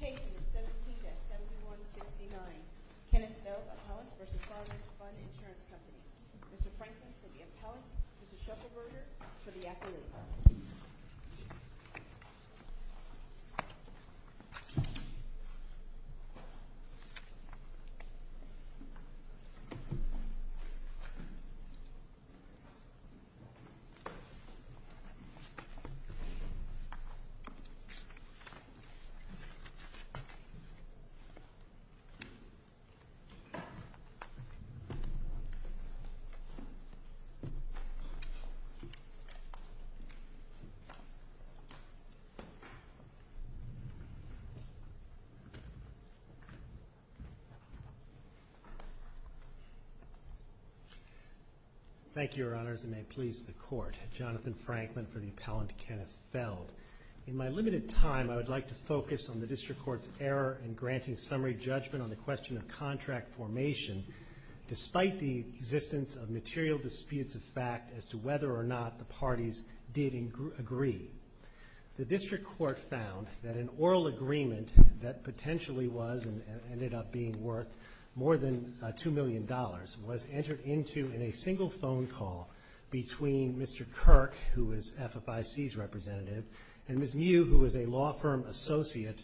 Case number 17-7169, Kenneth Nove Appellant v. Fireman's Fund Insurance Company Mr. Franklin for the appellant, Mrs. Shuffelberger for the accolade. Thank you, Your Honors, and may it please the Court, Jonathan Franklin for the appellant, District Court's error in granting summary judgment on the question of contract formation despite the existence of material disputes of fact as to whether or not the parties did agree. The District Court found that an oral agreement that potentially was and ended up being worth more than $2 million was entered into in a single phone call between Mr. Kirk, who was FFIC's representative, and Ms. Mew, who was a law firm associate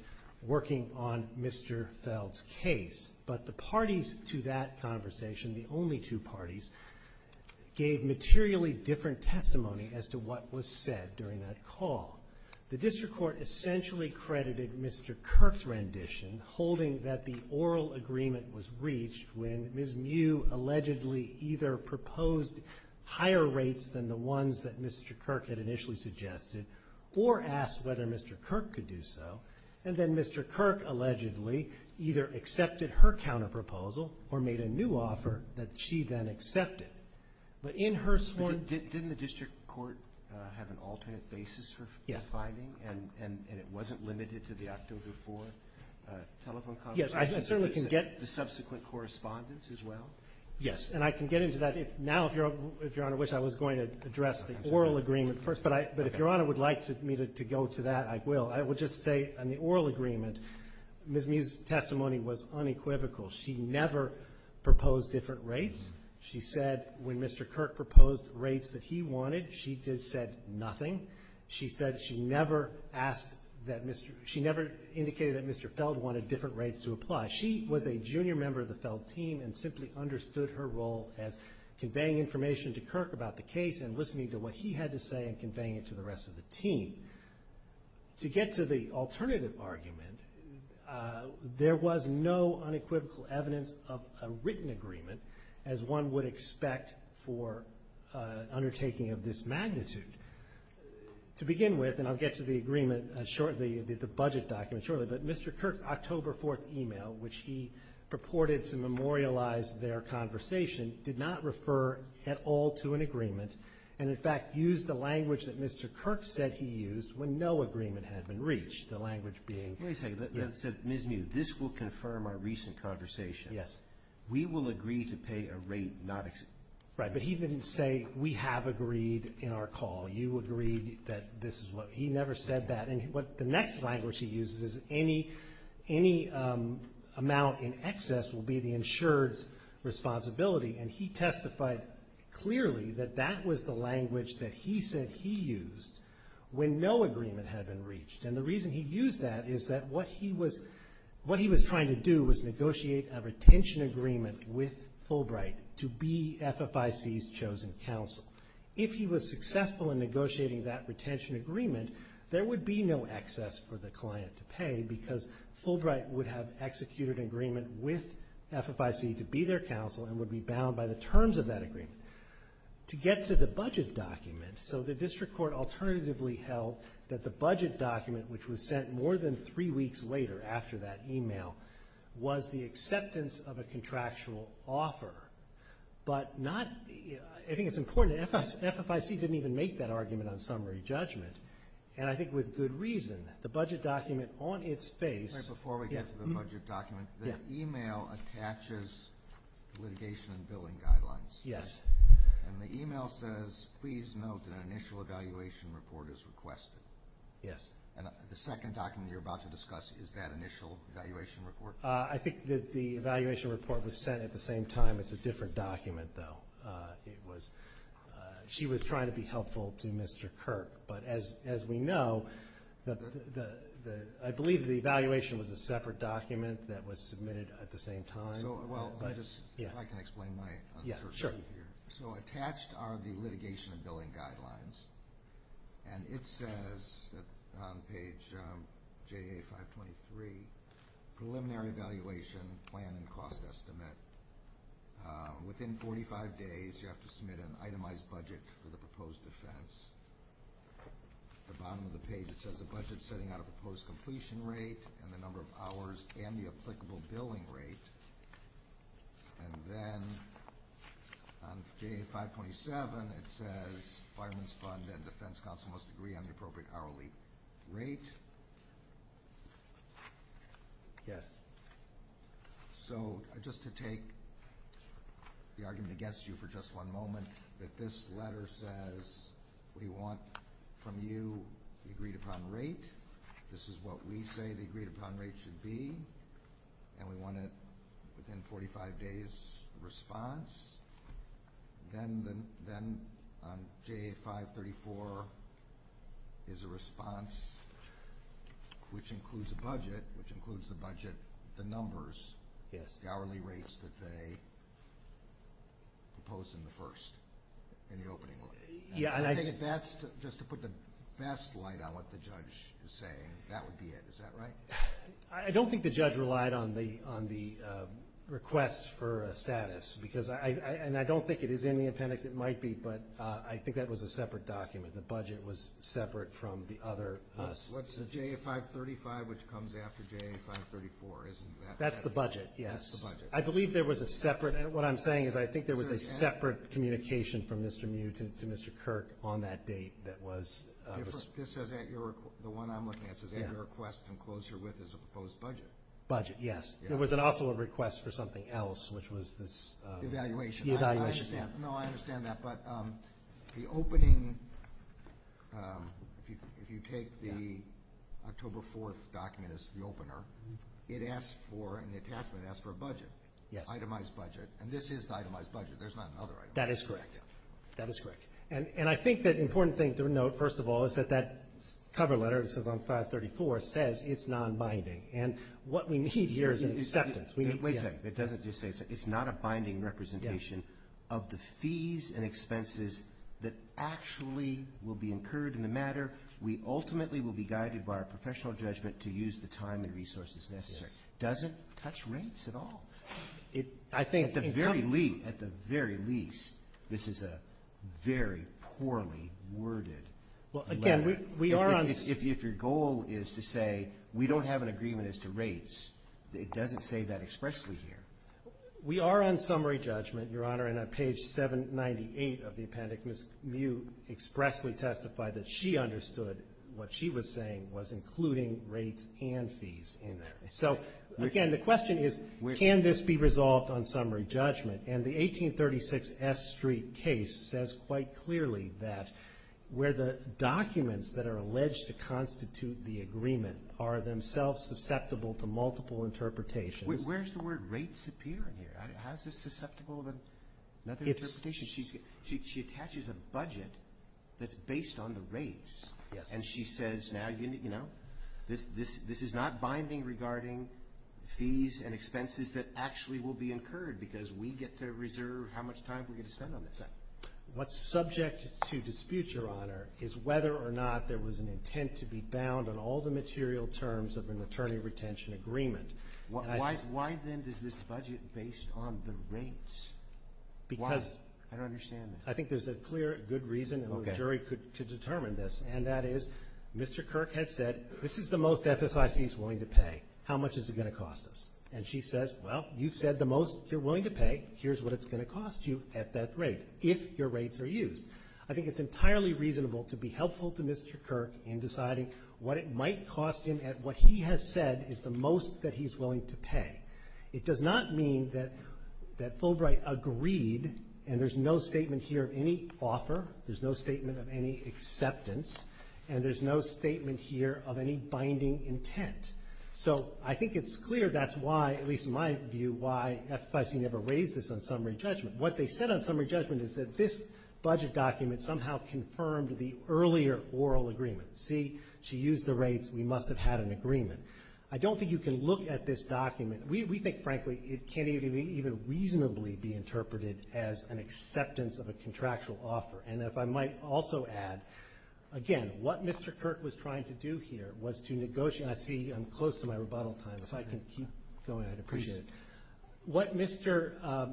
working on Mr. Feld's case. But the parties to that conversation, the only two parties, gave materially different testimony as to what was said during that call. The District Court essentially credited Mr. Kirk's rendition holding that the oral agreement was reached when Ms. Mew allegedly either proposed higher rates than the ones that Mr. Kirk had initially suggested or asked whether Mr. Kirk could do so, and then Mr. Kirk allegedly either accepted her counterproposal or made a new offer that she then accepted. But in her sworn ---- But didn't the District Court have an alternate basis for finding? Yes. And it wasn't limited to the October 4th telephone conversation? Yes. I certainly can get ---- The subsequent correspondence as well? Yes. And I can get into that. Now, if Your Honor wishes, I was going to address the oral agreement first, but if Your Honor would like me to go to that, I will. I will just say on the oral agreement, Ms. Mew's testimony was unequivocal. She never proposed different rates. She said when Mr. Kirk proposed rates that he wanted, she just said nothing. She said she never asked that Mr. ---- she never indicated that Mr. Feld wanted different rates to apply. She was a junior member of the Feld team and simply understood her role as conveying information to Kirk about the case and listening to what he had to say and conveying it to the rest of the team. To get to the alternative argument, there was no unequivocal evidence of a written agreement as one would expect for undertaking of this magnitude. To begin with, and I'll get to the agreement shortly, the budget document shortly, but Mr. Kirk's October 4th email, which he purported to memorialize their conversation, did not refer at all to an agreement and, in fact, used the language that Mr. Kirk said he used when no agreement had been reached, the language being ---- Let me say, Ms. Mew, this will confirm our recent conversation. Yes. We will agree to pay a rate not ---- Right, but he didn't say we have agreed in our call. You agreed that this is what ---- he never said that. The next language he uses is any amount in excess will be the insured's responsibility, and he testified clearly that that was the language that he said he used when no agreement had been reached. And the reason he used that is that what he was trying to do was negotiate a retention agreement with Fulbright to be FFIC's chosen counsel. If he was successful in negotiating that retention agreement, there would be no excess for the client to pay because Fulbright would have executed an agreement with FFIC to be their counsel and would be bound by the terms of that agreement. To get to the budget document, so the district court alternatively held that the budget document, which was sent more than three weeks later after that email, was the acceptance of a contractual offer, but not ---- I think it's important that FFIC didn't even make that argument on summary judgment, and I think with good reason. The budget document on its face ---- Before we get to the budget document, the email attaches litigation and billing guidelines. Yes. And the email says, please note that an initial evaluation report is requested. Yes. And the second document you're about to discuss, is that initial evaluation report? I think that the evaluation report was sent at the same time. It's a different document, though. She was trying to be helpful to Mr. Kirk. But as we know, I believe the evaluation was a separate document that was submitted at the same time. If I can explain my assertion here. Sure. So attached are the litigation and billing guidelines, and it says on page JA 523, preliminary evaluation plan and cost estimate. Within 45 days, you have to submit an itemized budget for the proposed defense. At the bottom of the page, it says a budget setting out a proposed completion rate and the number of hours and the applicable billing rate. And then on page 527, it says fireman's fund and defense counsel must agree on the appropriate hourly rate. Yes. So just to take the argument against you for just one moment, that this letter says we want from you the agreed upon rate. This is what we say the agreed upon rate should be. And we want it within 45 days' response. Then on JA 534 is a response which includes a budget, which includes the budget, the numbers, the hourly rates that they propose in the first, in the opening letter. I think if that's just to put the best light on what the judge is saying, that would be it. Is that right? I don't think the judge relied on the request for a status. And I don't think it is in the appendix. It might be, but I think that was a separate document. The budget was separate from the other. What's the JA 535, which comes after JA 534? Isn't that separate? That's the budget, yes. That's the budget. I believe there was a separate. What I'm saying is I think there was a separate communication from Mr. Mew to Mr. Kirk on that date. The one I'm looking at says at your request and closer with as a proposed budget. Budget, yes. There was also a request for something else, which was this evaluation. No, I understand that. But the opening, if you take the October 4th document as the opener, it asks for an attachment. It asks for a budget, itemized budget. And this is the itemized budget. There's not another itemized budget. That is correct. That is correct. And I think the important thing to note, first of all, is that that cover letter, which is on 534, says it's nonbinding. And what we need here is an acceptance. Wait a second. It doesn't just say it's not a binding representation of the fees and expenses that actually will be incurred in the matter. We ultimately will be guided by our professional judgment to use the time and resources necessary. It doesn't touch rates at all. At the very least, this is a very poorly worded letter. If your goal is to say we don't have an agreement as to rates, it doesn't say that expressly here. We are on summary judgment, Your Honor. And on page 798 of the appendix, Ms. Mew expressly testified that she understood what she was saying was including rates and fees in there. So, again, the question is, can this be resolved on summary judgment? And the 1836 S Street case says quite clearly that where the documents that are alleged to constitute the agreement are themselves susceptible to multiple interpretations. Where does the word rates appear in here? How is this susceptible to another interpretation? She attaches a budget that's based on the rates. Yes. And she says now, you know, this is not binding regarding fees and expenses that actually will be incurred because we get to reserve how much time we get to spend on this. What's subject to dispute, Your Honor, is whether or not there was an intent to be bound on all the material terms of an attorney retention agreement. Why, then, is this budget based on the rates? Why? I don't understand that. I think there's a clear good reason, and the jury could determine this, and that is Mr. Kirk had said, this is the most FFIC is willing to pay. How much is it going to cost us? And she says, well, you've said the most you're willing to pay. Here's what it's going to cost you at that rate, if your rates are used. I think it's entirely reasonable to be helpful to Mr. Kirk in deciding what it might cost him at what he has said is the most that he's willing to pay. It does not mean that Fulbright agreed, and there's no statement here of any offer, there's no statement of any acceptance, and there's no statement here of any binding intent. So I think it's clear that's why, at least in my view, why FFIC never raised this on summary judgment. What they said on summary judgment is that this budget document somehow confirmed the earlier oral agreement. See, she used the rates, we must have had an agreement. I don't think you can look at this document. We think, frankly, it can't even reasonably be interpreted as an acceptance of a contractual offer. And if I might also add, again, what Mr. Kirk was trying to do here was to negotiate. I see I'm close to my rebuttal time. If I can keep going, I'd appreciate it. What Mr.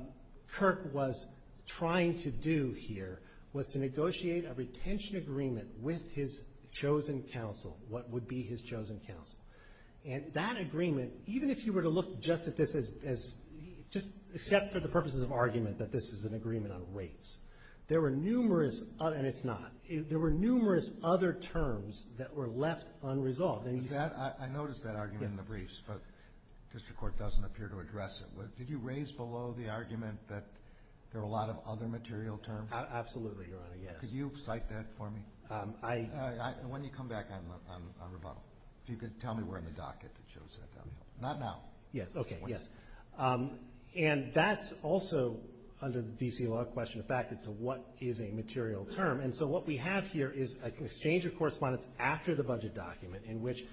Kirk was trying to do here was to negotiate a retention agreement with his chosen counsel, what would be his chosen counsel. And that agreement, even if you were to look just at this as just except for the purposes of argument that this is an agreement on rates. There were numerous, and it's not, there were numerous other terms that were left unresolved. I noticed that argument in the briefs, but district court doesn't appear to address it. Did you raise below the argument that there are a lot of other material terms? Absolutely, Your Honor, yes. Could you cite that for me? When you come back, I'm on rebuttal. If you could tell me where in the docket it shows that. Not now. Yes, okay, yes. And that's also under the D.C. law question affected to what is a material term. And so what we have here is an exchange of correspondence after the budget document in which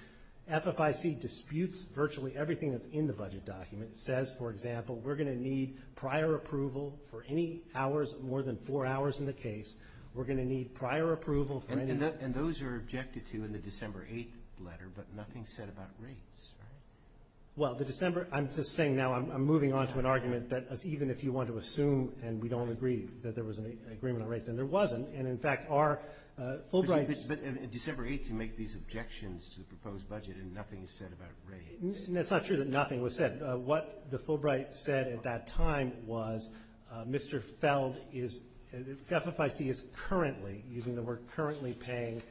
FFIC disputes virtually everything that's in the budget document. It says, for example, we're going to need prior approval for any hours more than four hours in the case. We're going to need prior approval for any. And those are objected to in the December 8th letter, but nothing said about rates, right? Well, the December, I'm just saying now I'm moving on to an argument that even if you want to assume and we don't agree that there was an agreement on rates, and there wasn't. And, in fact, our Fulbright's. But December 8th you make these objections to the proposed budget and nothing is said about rates. It's not true that nothing was said. What the Fulbright said at that time was Mr. Feld is, FFIC is currently, using the word currently, paying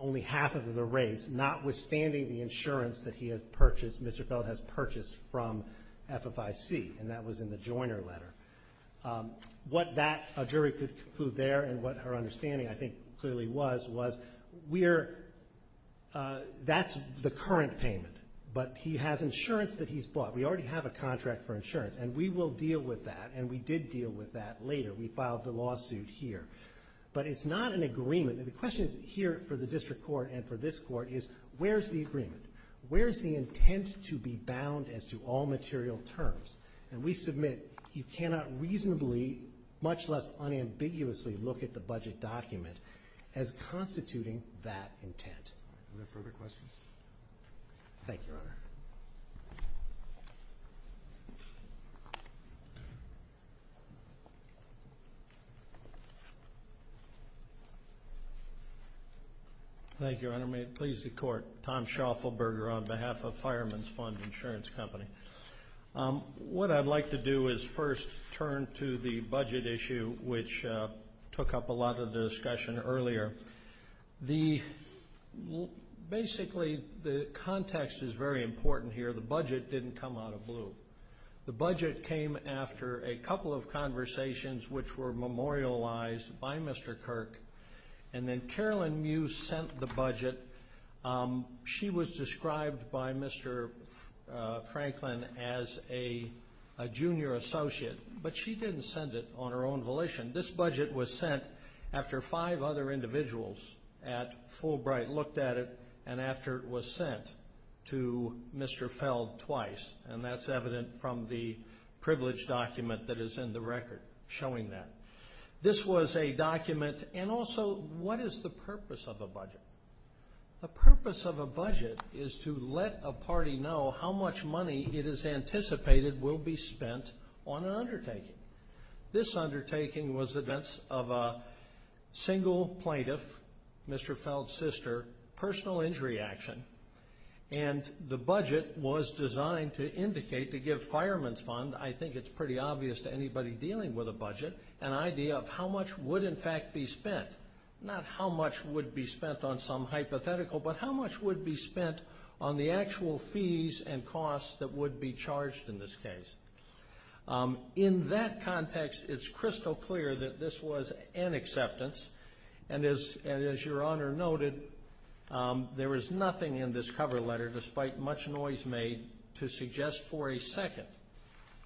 only half of the rates, notwithstanding the insurance that he had purchased, Mr. Feld has purchased from FFIC, and that was in the Joyner letter. What that jury could conclude there and what her understanding, I think, clearly was, was we're, that's the current payment. But he has insurance that he's bought. We already have a contract for insurance, and we will deal with that, and we did deal with that later. We filed the lawsuit here. But it's not an agreement. And the question is here for the district court and for this court is where's the agreement? Where's the intent to be bound as to all material terms? And we submit you cannot reasonably, much less unambiguously, look at the budget document as constituting that intent. Are there further questions? Thank you, Your Honor. Thank you, Your Honor. May it please the Court. Tom Schaufelberger on behalf of Fireman's Fund Insurance Company. What I'd like to do is first turn to the budget issue, which took up a lot of the discussion earlier. The, basically, the context is very important here. The budget didn't come out of blue. The budget came after a couple of conversations which were memorialized by Mr. Kirk. And then Carolyn Mews sent the budget. She was described by Mr. Franklin as a junior associate. But she didn't send it on her own volition. This budget was sent after five other individuals at Fulbright looked at it and after it was sent to Mr. Feld twice. And that's evident from the privilege document that is in the record showing that. This was a document. And also, what is the purpose of a budget? The purpose of a budget is to let a party know how much money it is anticipated will be spent on an undertaking. This undertaking was the events of a single plaintiff, Mr. Feld's sister, personal injury action. And the budget was designed to indicate, to give Fireman's Fund, I think it's pretty obvious to anybody dealing with a budget, an idea of how much would, in fact, be spent. Not how much would be spent on some hypothetical, but how much would be spent on the actual fees and costs that would be charged in this case. In that context, it's crystal clear that this was an acceptance. And as your Honor noted, there was nothing in this cover letter, despite much noise made, to suggest for a second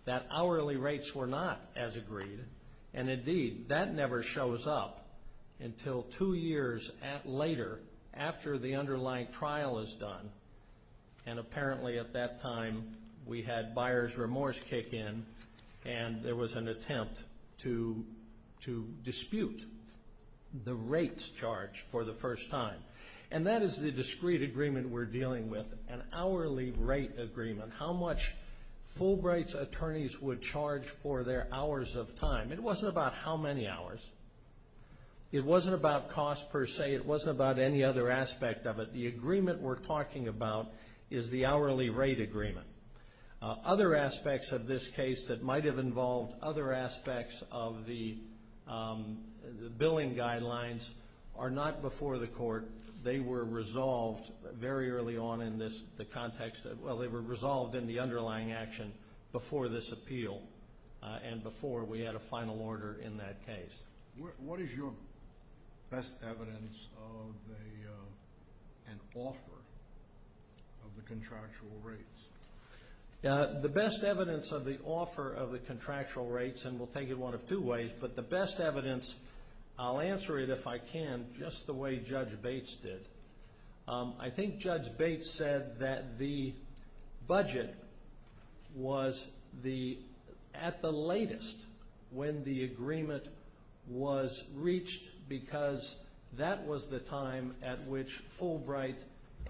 that hourly rates were not as agreed. And indeed, that never shows up until two years later, after the underlying trial is done. And apparently, at that time, we had buyer's remorse kick in, and there was an attempt to dispute the rates charged for the first time. And that is the discrete agreement we're dealing with, an hourly rate agreement, how much Fulbright's attorneys would charge for their hours of time. It wasn't about how many hours. It wasn't about cost, per se. It wasn't about any other aspect of it. The agreement we're talking about is the hourly rate agreement. Other aspects of this case that might have involved other aspects of the billing guidelines are not before the court. They were resolved very early on in this context. Well, they were resolved in the underlying action before this appeal and before we had a final order in that case. What is your best evidence of an offer of the contractual rates? The best evidence of the offer of the contractual rates, and we'll take it one of two ways, but the best evidence, I'll answer it if I can, just the way Judge Bates did. I think Judge Bates said that the budget was at the latest when the agreement was reached because that was the time at which Fulbright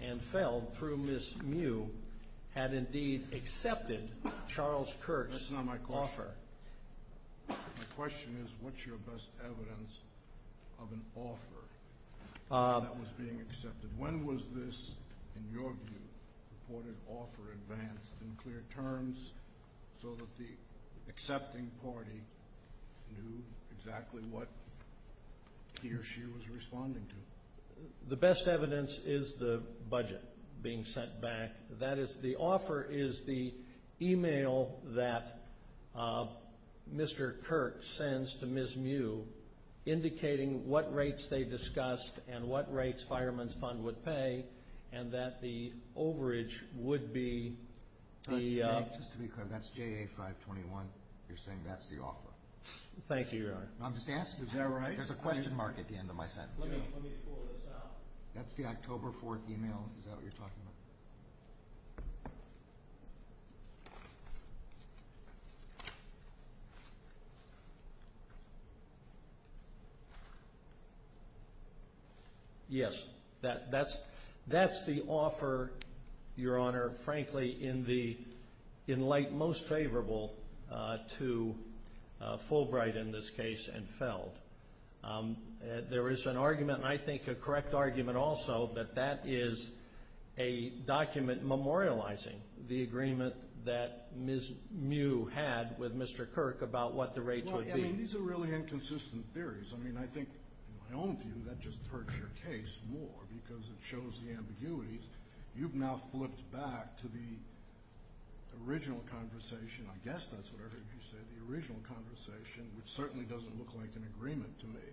and Feld, through Ms. Mew, had indeed accepted Charles Kurtz's offer. That's not my question. My question is what's your best evidence of an offer that was being accepted? When was this, in your view, reported offer advanced in clear terms so that the accepting party knew exactly what he or she was responding to? The best evidence is the budget being sent back. That is, the offer is the email that Mr. Kurtz sends to Ms. Mew indicating what rates they discussed and what rates Fireman's Fund would pay and that the overage would be the— Just to be clear, that's JA 521? You're saying that's the offer? Thank you, Your Honor. I'm just asking. Is that right? There's a question mark at the end of my sentence. Let me pull this out. That's the October 4th email. Is that what you're talking about? Yes, that's the offer, Your Honor, frankly, in light most favorable to Fulbright in this case and Feld. There is an argument, and I think a correct argument also, that that is a document memorializing the agreement that Ms. Mew had with Mr. Kirk about what the rates would be. I mean, these are really inconsistent theories. I mean, I think, in my own view, that just hurts your case more because it shows the ambiguities. You've now flipped back to the original conversation. I guess that's what I heard you say, the original conversation, which certainly doesn't look like an agreement to me.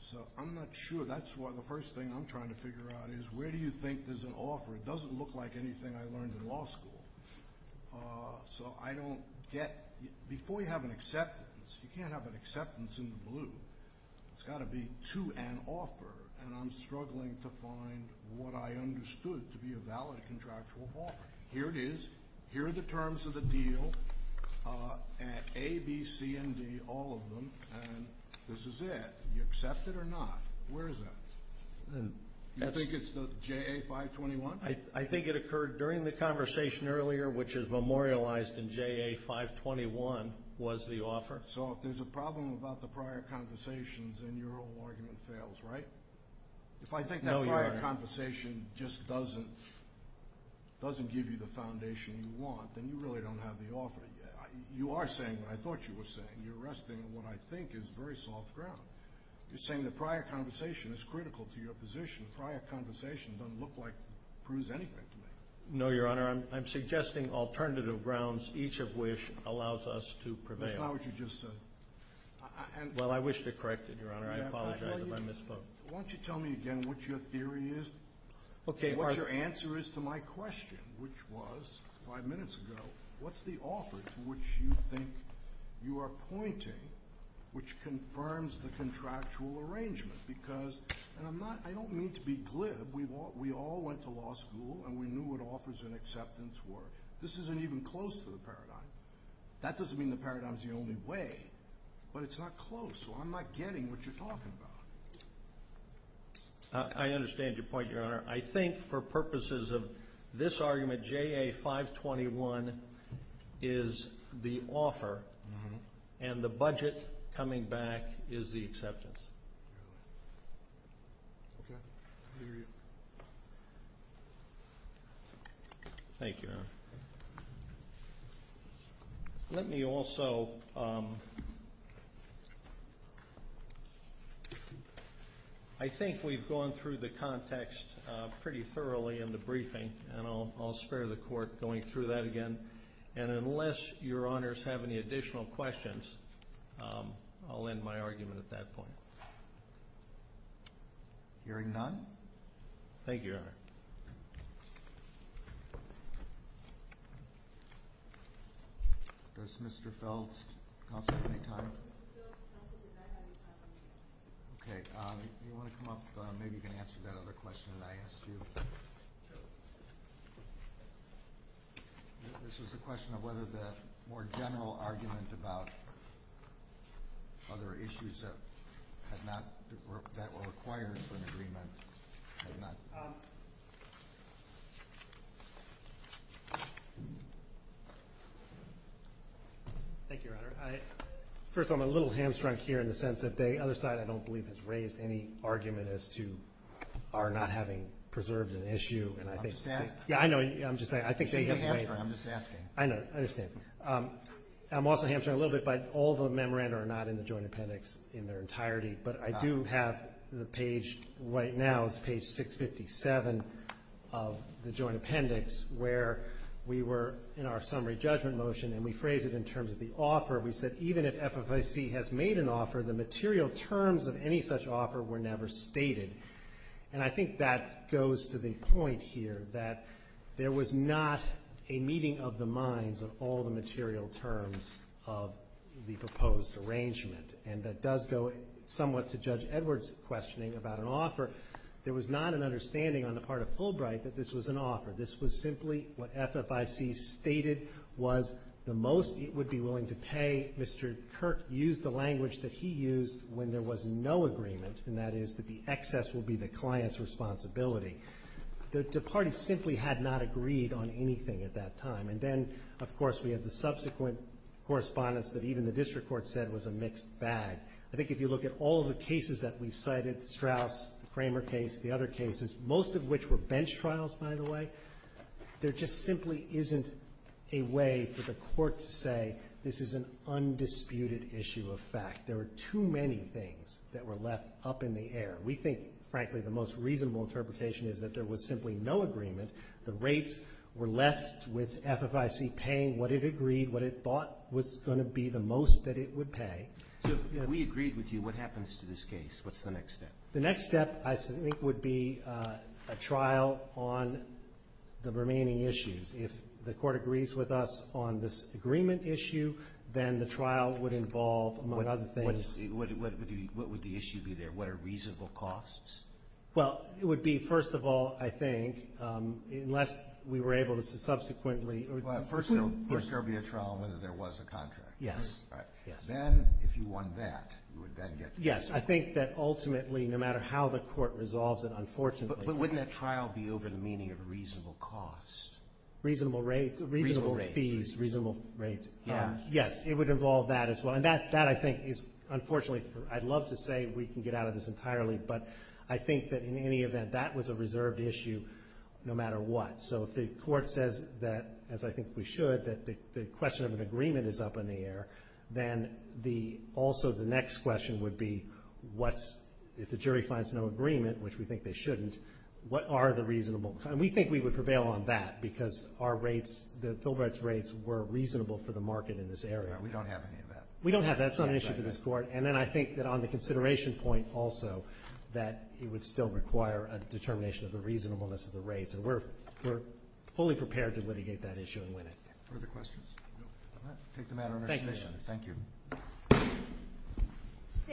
So I'm not sure. That's why the first thing I'm trying to figure out is where do you think there's an offer? It doesn't look like anything I learned in law school. So I don't get—before you have an acceptance, you can't have an acceptance in the blue. It's got to be to an offer, and I'm struggling to find what I understood to be a valid contractual offer. Here it is. Here are the terms of the deal at A, B, C, and D, all of them, and this is it. You accept it or not. Where is that? You think it's the JA 521? I think it occurred during the conversation earlier, which is memorialized in JA 521, was the offer. So if there's a problem about the prior conversations, then your whole argument fails, right? No, Your Honor. If the prior conversation just doesn't give you the foundation you want, then you really don't have the offer. You are saying what I thought you were saying. You're resting on what I think is very soft ground. You're saying the prior conversation is critical to your position. The prior conversation doesn't look like it proves anything to me. No, Your Honor. I'm suggesting alternative grounds, each of which allows us to prevail. That's not what you just said. Well, I wish to correct it, Your Honor. I apologize if I misspoke. Why don't you tell me again what your theory is and what your answer is to my question, which was five minutes ago. What's the offer to which you think you are pointing which confirms the contractual arrangement? Because I don't mean to be glib. We all went to law school, and we knew what offers and acceptance were. This isn't even close to the paradigm. That doesn't mean the paradigm is the only way, but it's not close, so I'm not getting what you're talking about. I understand your point, Your Honor. I think for purposes of this argument, JA 521 is the offer, and the budget coming back is the acceptance. I think we've gone through the context pretty thoroughly in the briefing, and I'll spare the Court going through that again. Unless Your Honors have any additional questions, I'll end my argument at that point. Hearing none. Thank you, Your Honor. Does Mr. Felds, counsel, have any time? Okay. Do you want to come up? Maybe you can answer that other question that I asked you. This was a question of whether the more general argument about other issues that were required for an agreement. Thank you, Your Honor. First of all, I'm a little hamstrung here in the sense that the other side, I don't believe, has raised any argument as to our not having preserved an issue. I'm just asking. I know. I'm just saying. I'm just asking. I know. I understand. I'm also hamstrung a little bit by all the memoranda are not in the Joint Appendix in their entirety, but I do have the page right now, it's page 657 of the Joint Appendix, where we were in our summary judgment motion and we phrased it in terms of the offer. We said even if FFIC has made an offer, the material terms of any such offer were never stated. And I think that goes to the point here that there was not a meeting of the minds of all the material terms of the proposed arrangement. And that does go somewhat to Judge Edwards' questioning about an offer. There was not an understanding on the part of Fulbright that this was an offer. This was simply what FFIC stated was the most it would be willing to pay. Mr. Kirk used the language that he used when there was no agreement, and that is that the excess will be the client's responsibility. The parties simply had not agreed on anything at that time. And then, of course, we have the subsequent correspondence that even the district court said was a mixed bag. I think if you look at all the cases that we've cited, Strauss, the Kramer case, the other cases, most of which were bench trials, by the way, there just simply isn't a way for the court to say this is an undisputed issue of fact. There were too many things that were left up in the air. We think, frankly, the most reasonable interpretation is that there was simply no agreement. The rates were left with FFIC paying what it agreed, what it thought was going to be the most that it would pay. So if we agreed with you, what happens to this case? What's the next step? The next step, I think, would be a trial on the remaining issues. If the court agrees with us on this agreement issue, then the trial would involve, among other things. What would the issue be there? What are reasonable costs? Well, it would be, first of all, I think, unless we were able to subsequently First, there would be a trial on whether there was a contract. Yes. Then, if you want that, you would then get the contract. Yes. I think that ultimately, no matter how the court resolves it, unfortunately But wouldn't that trial be over the meaning of reasonable costs? Reasonable rates. Reasonable fees. Reasonable rates. Yes. It would involve that as well. And that, I think, is unfortunately, I'd love to say we can get out of this entirely, but I think that in any event, that was a reserved issue no matter what. So if the court says that, as I think we should, that the question of an agreement is up in the air, then also the next question would be if the jury finds no agreement, which we think they shouldn't, what are the reasonable costs? And we think we would prevail on that because our rates, the Fulbright's rates, were reasonable for the market in this area. We don't have any of that. We don't have that. That's not an issue for this court. And then I think that on the consideration point also, that it would still require a determination of the reasonableness of the rates. And we're fully prepared to litigate that issue and win it. Further questions? No. All right. Take the matter under consideration. Thank you. Thank you.